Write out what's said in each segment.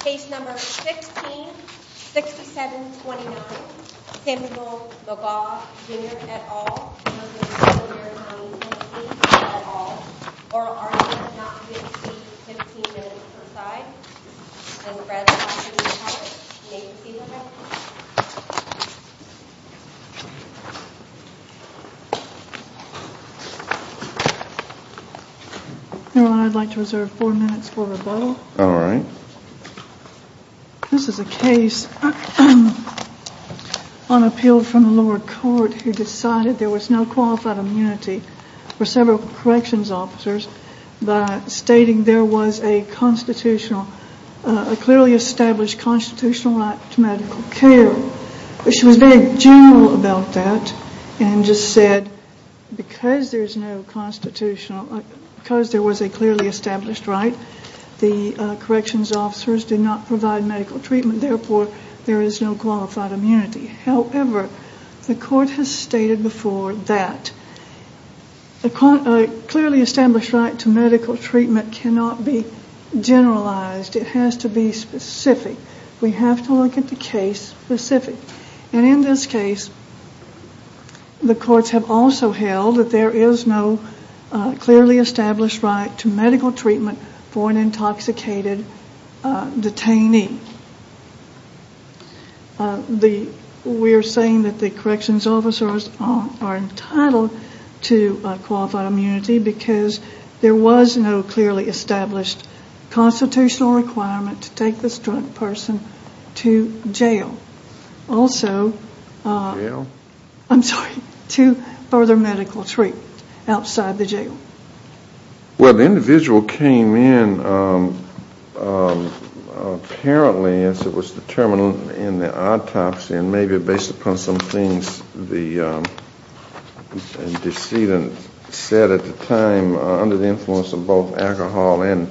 Case No. 16-6729, Samuel McGaw Jr. v. Sevier County TN Oral argument not to be received, 15 minutes per side I'd like to reserve 4 minutes for rebuttal. Alright. This is a case on appeal from the lower court who decided there was no qualified immunity for several corrections officers by stating there was a clearly established constitutional right to medical care. She was very general about that and just said because there was a clearly established right, the corrections officers did not provide medical treatment, therefore there is no qualified immunity. However, the court has stated before that a clearly established right to medical treatment cannot be generalized. It has to be specific. We have to look at the case specific. And in this case, the courts have also held that there is no clearly established right to medical treatment for an intoxicated detainee. We are saying that the corrections officers are entitled to qualified immunity because there was no clearly established constitutional requirement to take this drunk person to jail. Also, I'm sorry, to further medical treatment outside the jail. Well, the individual came in apparently as it was determined in the autopsy, and maybe based upon some things the decedent said at the time under the influence of both alcohol and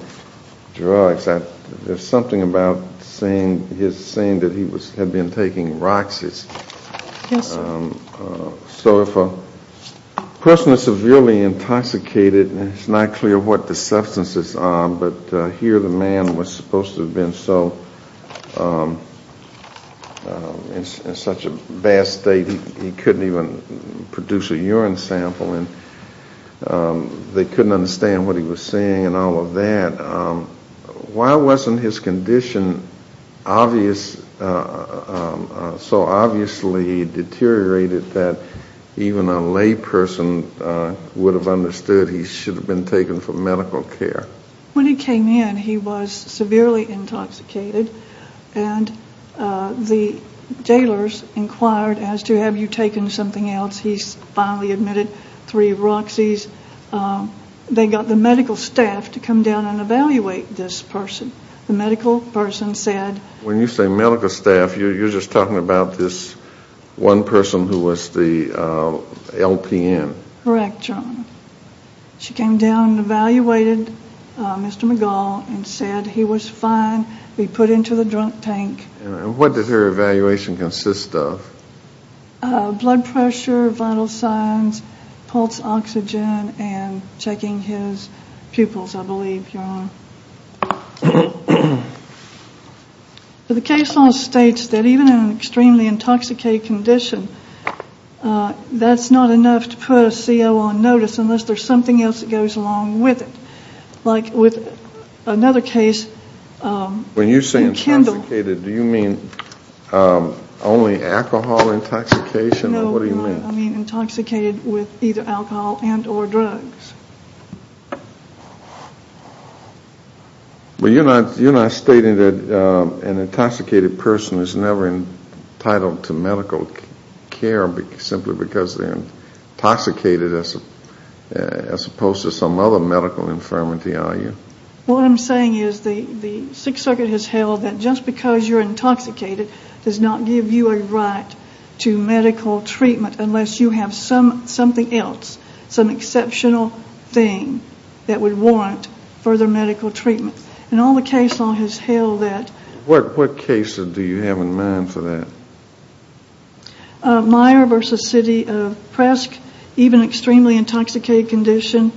drugs, there's something about his saying that he had been taking Roxas. Yes, sir. So if a person is severely intoxicated and it's not clear what the substance is on, but here the man was supposed to have been in such a bad state he couldn't even produce a urine sample and they couldn't understand what he was saying and all of that, why wasn't his condition so obviously deteriorated that even a lay person would have understood he should have been taken for medical care? When he came in, he was severely intoxicated, and the jailers inquired as to have you taken something else. He finally admitted three Roxas. They got the medical staff to come down and evaluate this person. The medical person said... When you say medical staff, you're just talking about this one person who was the LPN. Correct, John. She came down and evaluated Mr. McGall and said he was fine to be put into the drunk tank. What did her evaluation consist of? Blood pressure, vital signs, pulse oxygen, and checking his pupils, I believe, your Honor. The case law states that even in an extremely intoxicated condition, that's not enough to put a CO on notice unless there's something else that goes along with it, like with another case in Kendall. When you say intoxicated, do you mean only alcohol intoxication? No, I mean intoxicated with either alcohol and or drugs. But you're not stating that an intoxicated person is never entitled to medical care simply because they're intoxicated as opposed to some other medical infirmity, are you? What I'm saying is the Sixth Circuit has held that just because you're intoxicated does not give you a right to medical treatment unless you have something else, some exceptional thing that would warrant further medical treatment. And all the case law has held that... What cases do you have in mind for that? Meyer v. City of Presque, even extremely intoxicated condition,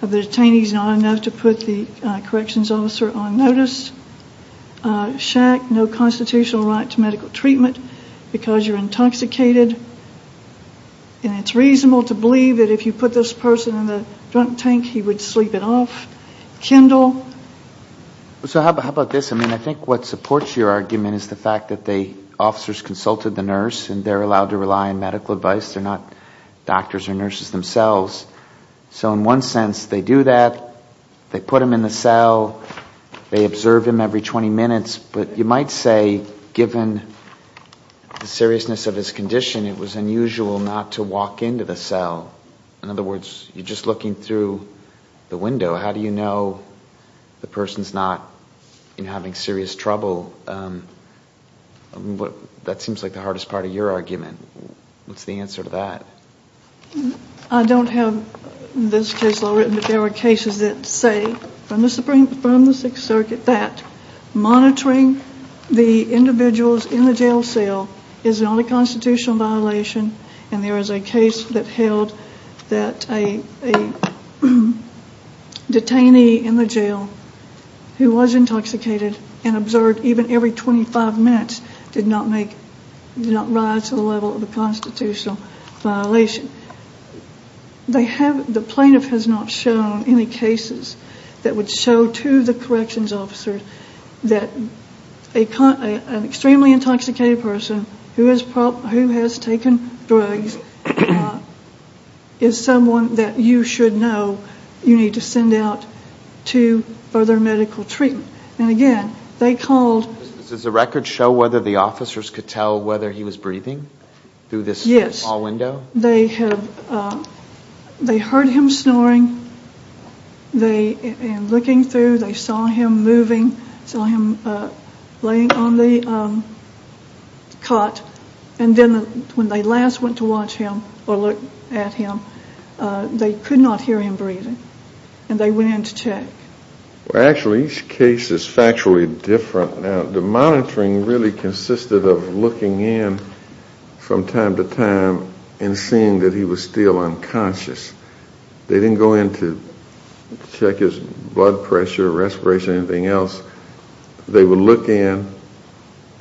the detainee's not enough to put the corrections officer on notice. Shack, no constitutional right to medical treatment because you're intoxicated. And it's reasonable to believe that if you put this person in the drunk tank, he would sleep it off. Kendall? So how about this? I mean, I think what supports your argument is the fact that the officers consulted the nurse and they're allowed to rely on medical advice, they're not doctors or nurses themselves. So in one sense, they do that, they put him in the cell, they observe him every 20 minutes, but you might say given the seriousness of his condition, it was unusual not to walk into the cell. In other words, you're just looking through the window. How do you know the person's not having serious trouble? That seems like the hardest part of your argument. What's the answer to that? I don't have this case law written, but there are cases that say from the Sixth Circuit that monitoring the individuals in the jail cell is not a constitutional violation and there is a case that held that a detainee in the jail who was intoxicated and observed even every 25 minutes did not rise to the level of a constitutional violation. The plaintiff has not shown any cases that would show to the corrections officers that an extremely intoxicated person who has taken drugs is someone that you should know you need to send out to further medical treatment. And again, they called... Does the record show whether the officers could tell whether he was breathing through this small window? Yes. They heard him snoring and looking through. They saw him moving, saw him laying on the cot, and then when they last went to watch him or look at him, they could not hear him breathing and they went in to check. Actually, each case is factually different. The monitoring really consisted of looking in from time to time and seeing that he was still unconscious. They didn't go in to check his blood pressure, respiration, anything else. They would look in.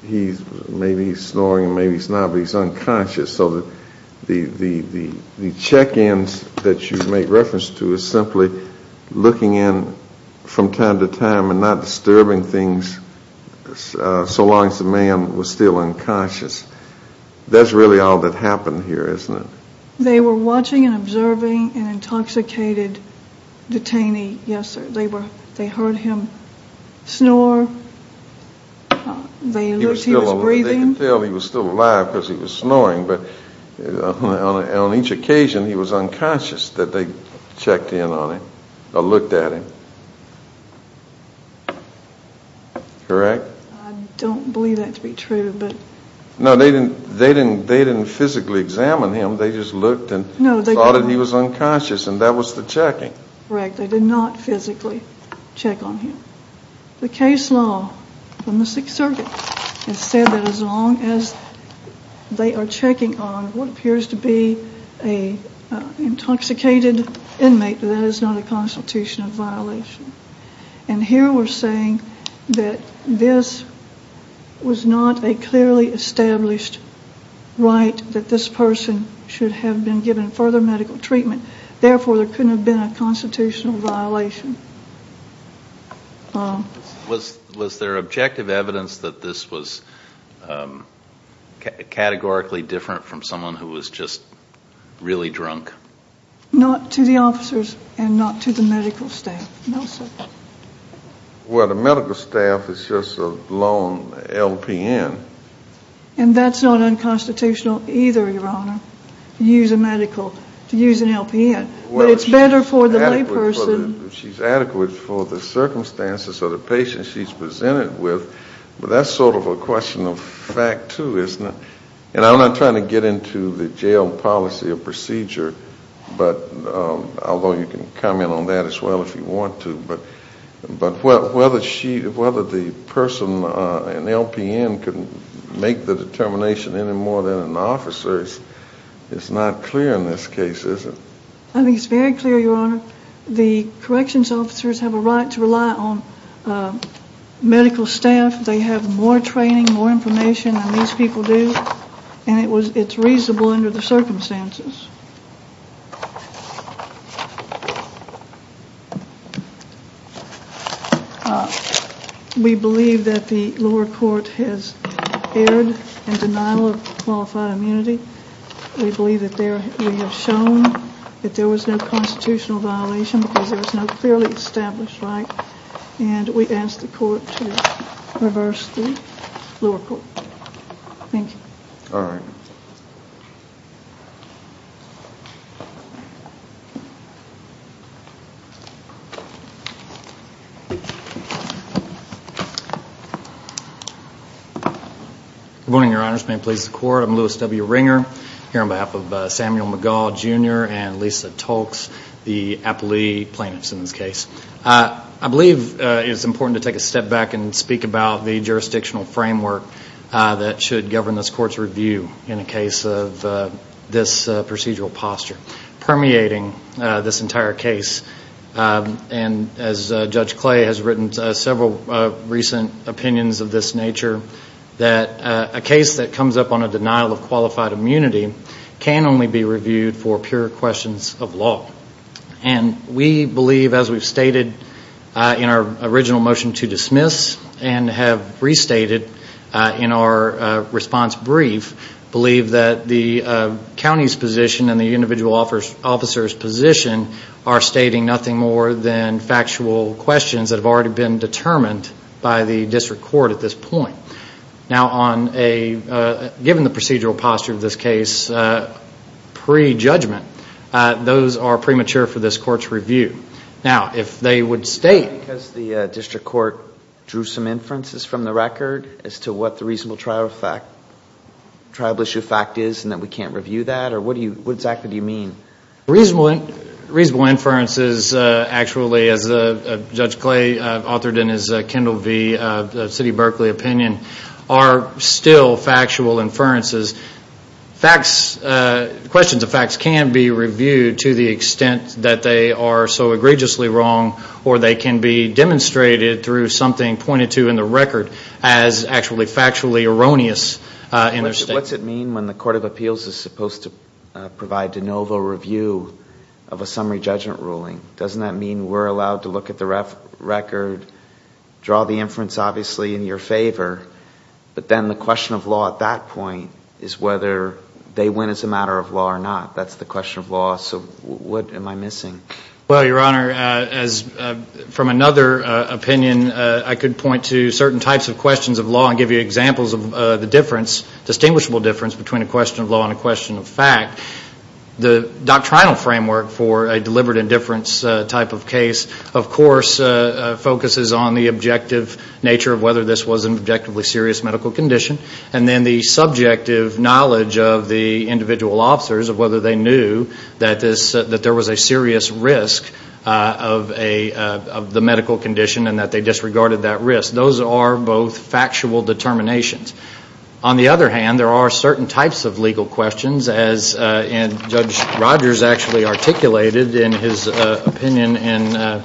Maybe he's snoring, maybe he's not, but he's unconscious. So the check-ins that you make reference to is simply looking in from time to time and not disturbing things so long as the man was still unconscious. That's really all that happened here, isn't it? They were watching and observing an intoxicated detainee, yes, sir. They heard him snore. They looked. He was breathing. They could tell he was still alive because he was snoring, but on each occasion he was unconscious that they checked in on him or looked at him. Correct? I don't believe that to be true. No, they didn't physically examine him. They just looked and thought he was unconscious, and that was the checking. Correct. They did not physically check on him. The case law from the Sixth Circuit has said that as long as they are checking on what appears to be an intoxicated inmate, that is not a constitutional violation. Here we're saying that this was not a clearly established right that this person should have been given further medical treatment, therefore there couldn't have been a constitutional violation. Was there objective evidence that this was categorically different from someone who was just really drunk? Not to the officers and not to the medical staff, no, sir. Well, the medical staff is just a lone LPN. And that's not unconstitutional either, Your Honor, to use an LPN. But it's better for the layperson. She's adequate for the circumstances of the patient she's presented with, but that's sort of a question of fact, too, isn't it? And I'm not trying to get into the jail policy or procedure, although you can comment on that as well if you want to, but whether the person, an LPN, can make the determination any more than an officer is not clear in this case, is it? I think it's very clear, Your Honor. The corrections officers have a right to rely on medical staff. They have more training, more information than these people do, and it's reasonable under the circumstances. We believe that the lower court has erred in denial of qualified immunity. We believe that we have shown that there was no constitutional violation because there was no clearly established right, and we ask the court to reverse the lower court. Thank you. All right. Thank you. Good morning, Your Honors. May it please the Court. I'm Louis W. Ringer here on behalf of Samuel McGaugh, Jr. and Lisa Tolkes, the appellee plaintiffs in this case. I believe it's important to take a step back and speak about the jurisdictional framework that should govern this court's review in a case of this procedural posture, permeating this entire case. And as Judge Clay has written several recent opinions of this nature, that a case that comes up on a denial of qualified immunity can only be reviewed for pure questions of law. And we believe, as we've stated in our original motion to dismiss and have restated in our response brief, believe that the county's position and the individual officer's position are stating nothing more than factual questions that have already been determined by the district court at this point. Now, given the procedural posture of this case pre-judgment, those are premature for this court's review. Now, if they would state... Because the district court drew some inferences from the record as to what the reasonable trial issue fact is and that we can't review that, or what exactly do you mean? Reasonable inferences, actually, as Judge Clay authored in his Kendall v. City of Berkeley opinion, are still factual inferences. Facts, questions of facts can be reviewed to the extent that they are so egregiously wrong or they can be demonstrated through something pointed to in the record as actually factually erroneous in their state. What's it mean when the Court of Appeals is supposed to provide de novo review of a summary judgment ruling? Doesn't that mean we're allowed to look at the record, draw the inference obviously in your favor, but then the question of law at that point is whether they win as a matter of law or not. That's the question of law, so what am I missing? Well, Your Honor, from another opinion, I could point to certain types of questions of law and give you examples of the distinguishable difference between a question of law and a question of fact. The doctrinal framework for a deliberate indifference type of case, of course, focuses on the objective nature of whether this was an objectively serious medical condition and then the subjective knowledge of the individual officers of whether they knew that there was a serious risk of the medical condition and that they disregarded that risk. Those are both factual determinations. On the other hand, there are certain types of legal questions, as Judge Rogers actually articulated in his opinion in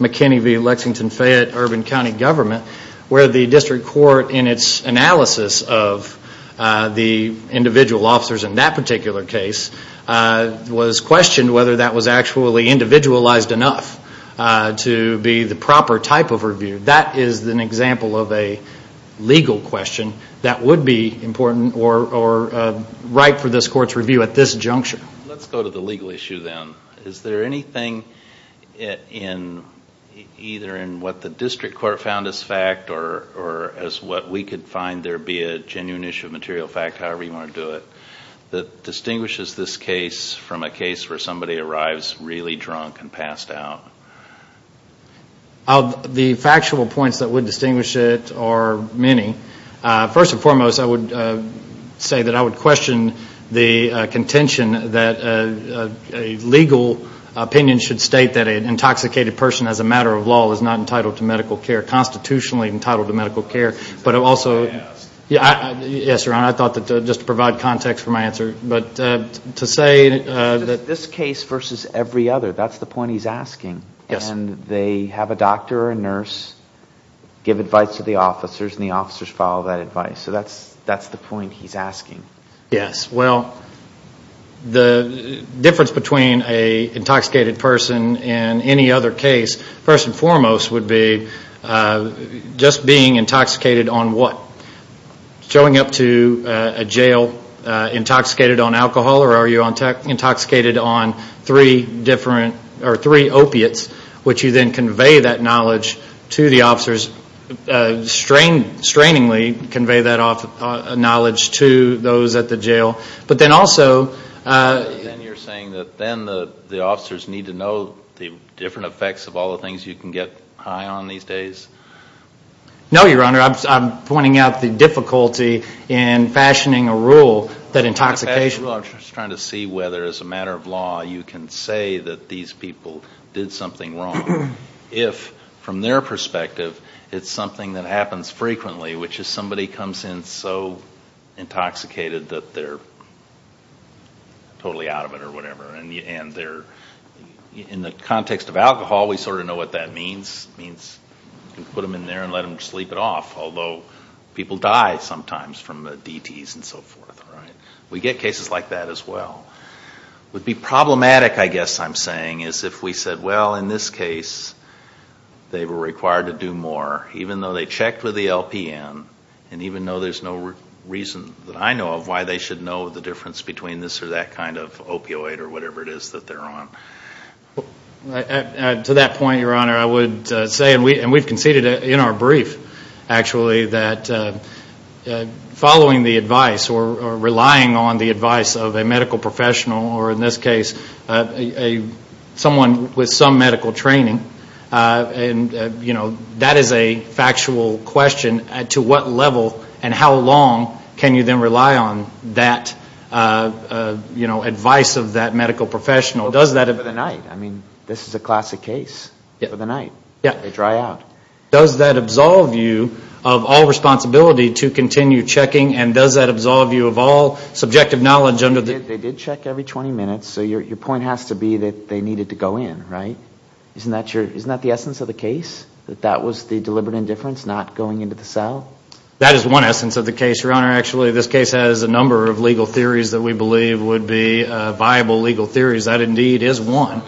McKinney v. Lexington-Fayette Urban County Government, where the district court in its analysis of the individual officers in that particular case was questioned whether that was actually individualized enough to be the proper type of review. That is an example of a legal question that would be important or right for this Court's review at this juncture. Let's go to the legal issue then. Is there anything either in what the district court found as fact or as what we could find there be a genuine issue of material fact, however you want to do it, that distinguishes this case from a case where somebody arrives really drunk and passed out? Of the factual points that would distinguish it are many. First and foremost, I would say that I would question the contention that a legal opinion should state that an intoxicated person as a matter of law is not entitled to medical care, constitutionally entitled to medical care. But also, yes, Your Honor, I thought that just to provide context for my answer. This case versus every other, that's the point he's asking. And they have a doctor or a nurse give advice to the officers and the officers follow that advice. So that's the point he's asking. Yes, well, the difference between an intoxicated person and any other case, first and foremost would be just being intoxicated on what? Showing up to a jail intoxicated on alcohol or are you intoxicated on three different, or three opiates, which you then convey that knowledge to the officers, strainingly convey that knowledge to those at the jail. But then also... Then you're saying that then the officers need to know the different effects of all the things you can get high on these days? No, Your Honor, I'm pointing out the difficulty in fashioning a rule that intoxication... I'm just trying to see whether as a matter of law you can say that these people did something wrong if from their perspective it's something that happens frequently, which is somebody comes in so intoxicated that they're totally out of it or whatever. And in the context of alcohol, we sort of know what that means. It means you can put them in there and let them sleep it off, although people die sometimes from the DTs and so forth. We get cases like that as well. What would be problematic, I guess I'm saying, is if we said, well, in this case they were required to do more, even though they checked with the LPN, and even though there's no reason that I know of why they should know the difference between this or that kind of opioid or whatever it is that they're on. To that point, Your Honor, I would say, and we've conceded in our brief, actually, that following the advice or relying on the advice of a medical professional, or in this case someone with some medical training, and that is a factual question. To what level and how long can you then rely on that advice of that medical professional? Over the night. I mean, this is a classic case. Over the night. They dry out. Does that absolve you of all responsibility to continue checking, and does that absolve you of all subjective knowledge under the... They did check every 20 minutes, so your point has to be that they needed to go in, right? Isn't that the essence of the case? That that was the deliberate indifference, not going into the cell? That is one essence of the case, Your Honor. Actually, this case has a number of legal theories that we believe would be viable legal theories. That indeed is one.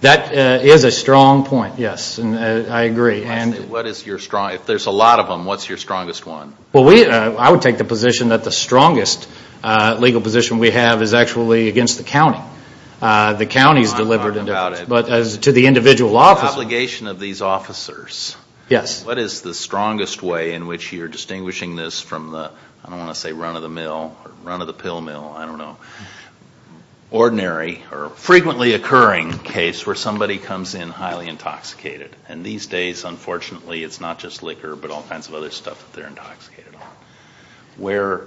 That is a strong point, yes. I agree. What is your strong... If there's a lot of them, what's your strongest one? Well, I would take the position that the strongest legal position we have is actually against the county. The county's deliberate indifference, but to the individual officer... The obligation of these officers. Yes. What is the strongest way in which you're distinguishing this from the... I don't want to say run-of-the-mill or run-of-the-pill mill. I don't know. Ordinary or frequently occurring case where somebody comes in highly intoxicated. And these days, unfortunately, it's not just liquor, but all kinds of other stuff that they're intoxicated on. Where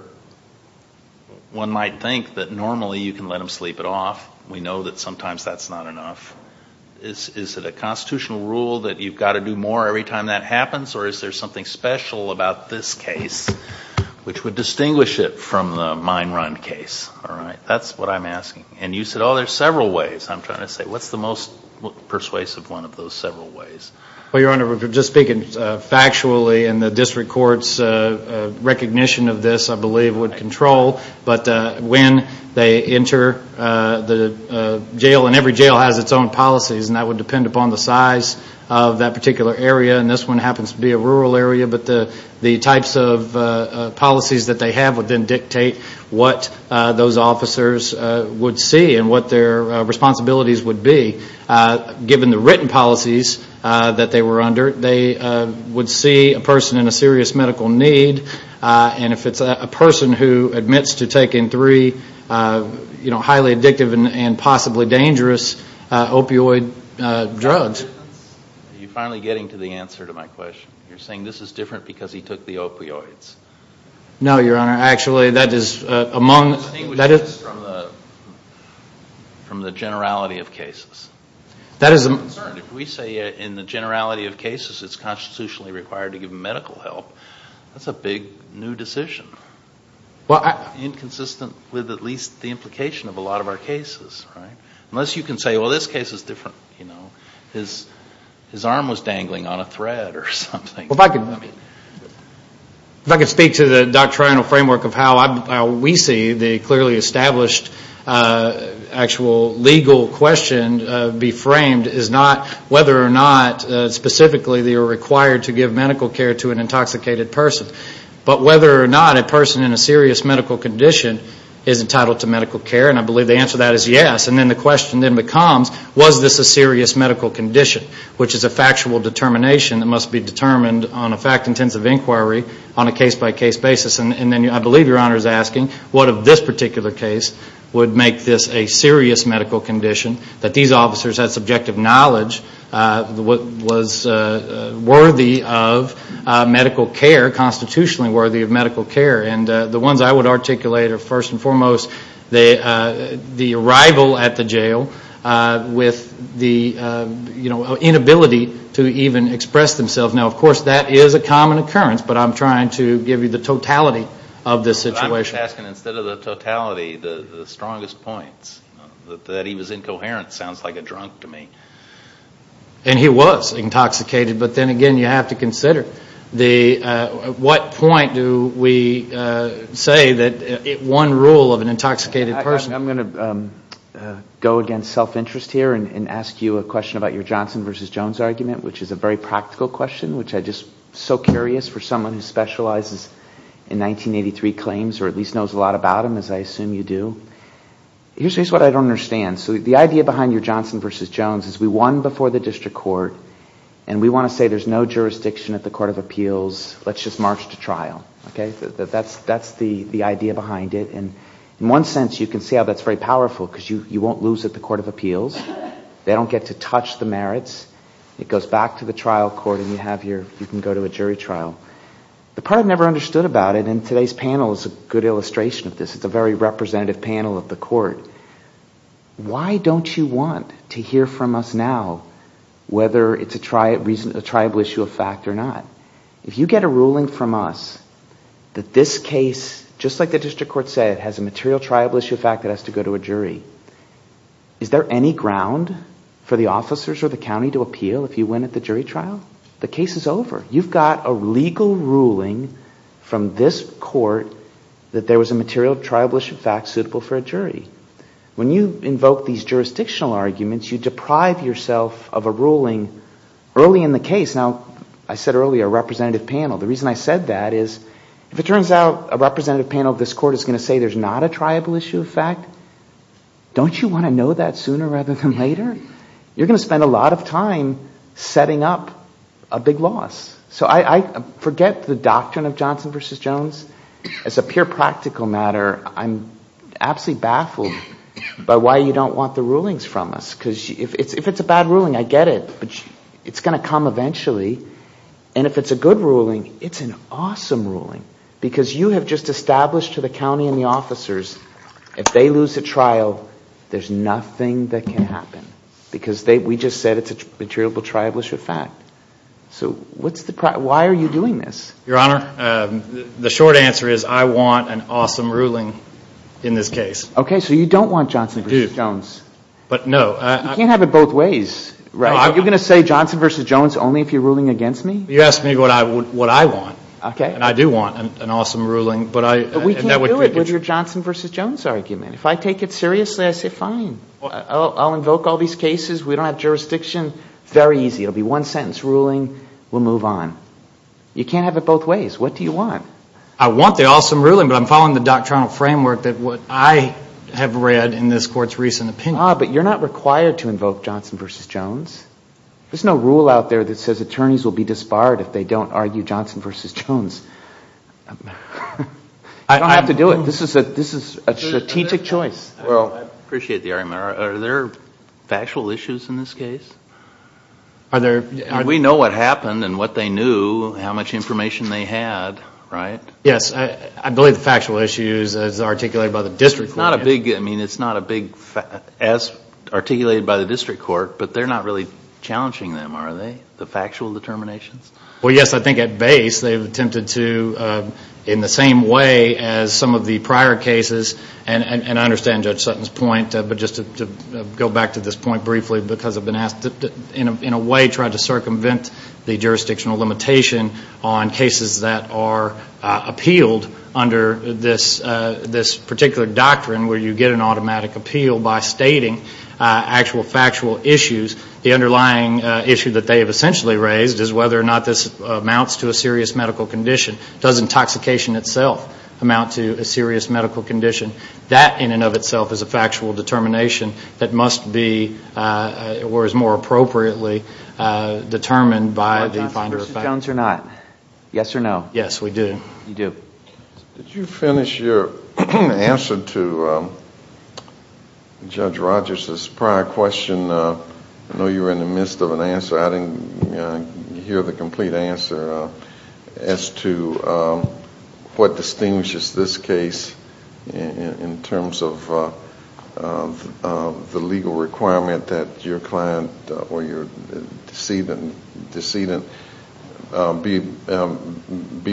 one might think that normally you can let them sleep it off. We know that sometimes that's not enough. Is it a constitutional rule that you've got to do more every time that happens? Or is there something special about this case which would distinguish it from the mine run case? All right. That's what I'm asking. And you said, oh, there's several ways. I'm trying to say, what's the most persuasive one of those several ways? Well, Your Honor, we're just speaking factually. And the district court's recognition of this, I believe, would control. But when they enter the jail, and every jail has its own policies, and that would depend upon the size of that particular area. And this one happens to be a rural area. But the types of policies that they have would then dictate what those officers would see and what their responsibilities would be. Given the written policies that they were under, they would see a person in a serious medical need. And if it's a person who admits to taking three highly addictive and possibly dangerous opioid drugs. Are you finally getting to the answer to my question? You're saying this is different because he took the opioids. No, Your Honor. Your Honor, actually, that is among. From the generality of cases. That is a concern. If we say in the generality of cases it's constitutionally required to give medical help, that's a big new decision. Inconsistent with at least the implication of a lot of our cases. Unless you can say, well, this case is different. His arm was dangling on a thread or something. If I could speak to the doctrinal framework of how we see the clearly established actual legal question be framed is not whether or not specifically they are required to give medical care to an intoxicated person. But whether or not a person in a serious medical condition is entitled to medical care. And I believe the answer to that is yes. And then the question then becomes, was this a serious medical condition? Which is a factual determination that must be determined on a fact-intensive inquiry on a case-by-case basis. And then I believe Your Honor is asking, what of this particular case would make this a serious medical condition? That these officers had subjective knowledge, was worthy of medical care, constitutionally worthy of medical care. And the ones I would articulate are first and foremost the arrival at the jail with the inability to even express themselves. Now, of course, that is a common occurrence. But I'm trying to give you the totality of this situation. But I'm just asking, instead of the totality, the strongest points. That he was incoherent sounds like a drunk to me. And he was intoxicated. But then again, you have to consider, at what point do we say that one rule of an intoxicated person. I'm going to go against self-interest here and ask you a question about your Johnson versus Jones argument. Which is a very practical question, which I'm just so curious for someone who specializes in 1983 claims. Or at least knows a lot about them, as I assume you do. Here's what I don't understand. So the idea behind your Johnson versus Jones is we won before the district court. And we want to say there's no jurisdiction at the court of appeals. Let's just march to trial. That's the idea behind it. And in one sense you can see how that's very powerful. Because you won't lose at the court of appeals. They don't get to touch the merits. It goes back to the trial court and you can go to a jury trial. The part I never understood about it, and today's panel is a good illustration of this. It's a very representative panel of the court. Why don't you want to hear from us now whether it's a triable issue of fact or not? If you get a ruling from us that this case, just like the district court said, has a material triable issue of fact that has to go to a jury, is there any ground for the officers or the county to appeal if you win at the jury trial? The case is over. You've got a legal ruling from this court that there was a material triable issue of fact suitable for a jury. When you invoke these jurisdictional arguments, you deprive yourself of a ruling early in the case. Now, I said earlier a representative panel. The reason I said that is if it turns out a representative panel of this court is going to say there's not a triable issue of fact, don't you want to know that sooner rather than later? You're going to spend a lot of time setting up a big loss. So I forget the doctrine of Johnson v. Jones. As a pure practical matter, I'm absolutely baffled by why you don't want the rulings from us. Because if it's a bad ruling, I get it, but it's going to come eventually. And if it's a good ruling, it's an awesome ruling. Because you have just established to the county and the officers if they lose the trial, there's nothing that can happen. Because we just said it's a material triable issue of fact. So why are you doing this? Your Honor, the short answer is I want an awesome ruling in this case. Okay, so you don't want Johnson v. Jones. But no. You can't have it both ways, right? You're going to say Johnson v. Jones only if you're ruling against me? You asked me what I want. And I do want an awesome ruling. But we can't do it with your Johnson v. Jones argument. If I take it seriously, I say fine. I'll invoke all these cases. We don't have jurisdiction. Very easy. It will be one-sentence ruling. We'll move on. You can't have it both ways. What do you want? I want the awesome ruling, but I'm following the doctrinal framework that I have read in this Court's recent opinion. But you're not required to invoke Johnson v. Jones. There's no rule out there that says attorneys will be disbarred if they don't argue Johnson v. Jones. I don't have to do it. This is a strategic choice. Well, I appreciate the argument. Are there factual issues in this case? We know what happened and what they knew, how much information they had, right? Yes. I believe the factual issue is articulated by the district court. It's not as articulated by the district court, but they're not really challenging them, are they, the factual determinations? Well, yes. I think at base they've attempted to, in the same way as some of the prior cases, and I understand Judge Sutton's point, but just to go back to this point briefly because I've been asked to, in a way, try to circumvent the jurisdictional limitation on cases that are appealed under this particular doctrine where you get an automatic appeal by stating actual factual issues. The underlying issue that they have essentially raised is whether or not this amounts to a serious medical condition. Does intoxication itself amount to a serious medical condition? That, in and of itself, is a factual determination that must be, or is more appropriately, determined by the finder of facts. Versus Jones or not? Yes or no? Yes, we do. You do. Did you finish your answer to Judge Rogers' prior question? I know you were in the midst of an answer. I didn't hear the complete answer as to what distinguishes this case in terms of the legal requirement that your client or your decedent be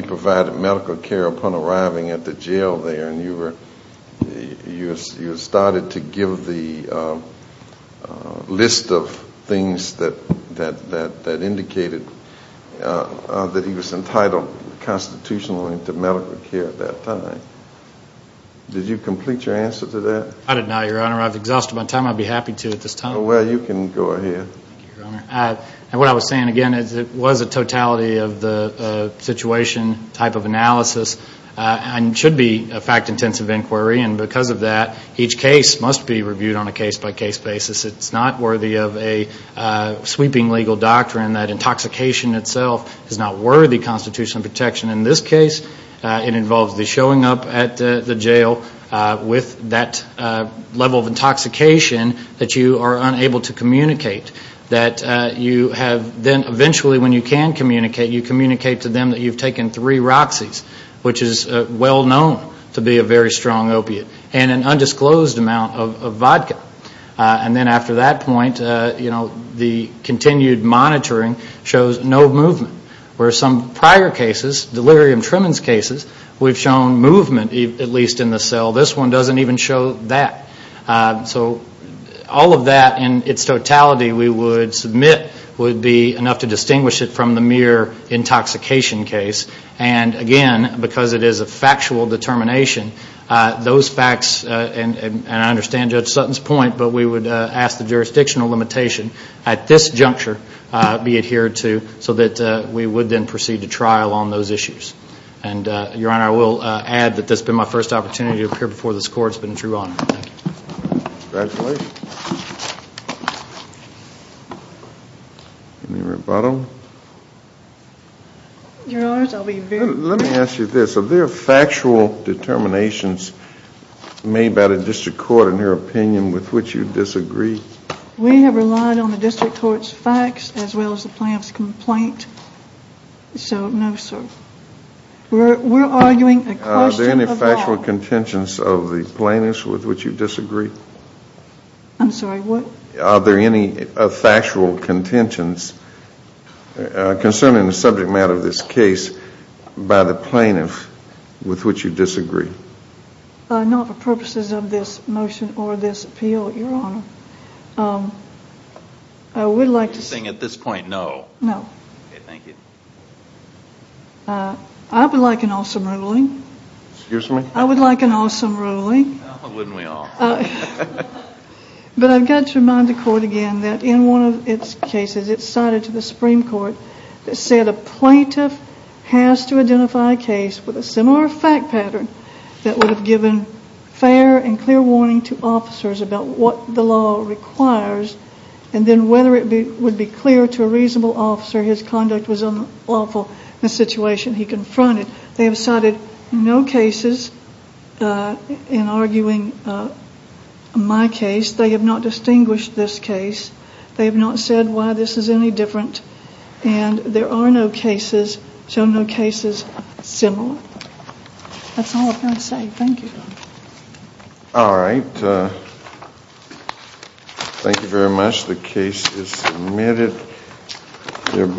provided medical care upon arriving at the jail there. And you started to give the list of things that indicated that he was entitled constitutionally to medical care at that time. Did you complete your answer to that? I did not, Your Honor. I've exhausted my time. I'd be happy to at this time. Thank you, Your Honor. What I was saying, again, is it was a totality of the situation type of analysis and should be a fact-intensive inquiry. And because of that, each case must be reviewed on a case-by-case basis. It's not worthy of a sweeping legal doctrine that intoxication itself is not worthy constitutional protection. In this case, it involves the showing up at the jail with that level of intoxication that you are unable to communicate. That you have then eventually, when you can communicate, you communicate to them that you've taken three Roxys, which is well-known to be a very strong opiate, and an undisclosed amount of vodka. And then after that point, you know, the continued monitoring shows no movement. Where some prior cases, delirium tremens cases, we've shown movement, at least in the cell. This one doesn't even show that. So all of that in its totality we would submit would be enough to distinguish it from the mere intoxication case. And again, because it is a factual determination, those facts, and I understand Judge Sutton's point, but we would ask the jurisdictional limitation at this juncture be adhered to so that we would then proceed to trial on those issues. And, Your Honor, I will add that this has been my first opportunity to appear before this court. It's been a true honor. Thank you. Congratulations. Any rebuttal? Your Honors, I'll be very brief. Let me ask you this. Are there factual determinations made by the district court in your opinion with which you disagree? We have relied on the district court's facts as well as the plaintiff's complaint. So, no, sir. We're arguing a question of law. Are there any factual contentions of the plaintiff with which you disagree? I'm sorry, what? Are there any factual contentions concerning the subject matter of this case by the plaintiff with which you disagree? Not for purposes of this motion or this appeal, Your Honor. I would like to see. No. Okay, thank you. I would like an awesome ruling. Excuse me? I would like an awesome ruling. Well, wouldn't we all? But I've got to remind the court again that in one of its cases it's cited to the Supreme Court that said a plaintiff has to identify a case with a similar fact pattern that would have given fair and clear warning to officers about what the law requires and then whether it would be clear to a reasonable officer his conduct was unlawful in the situation he confronted. They have cited no cases in arguing my case. They have not distinguished this case. They have not said why this is any different. And there are no cases, shown no cases, similar. That's all I'm going to say. Thank you, Your Honor. All right. Thank you very much. The case is submitted.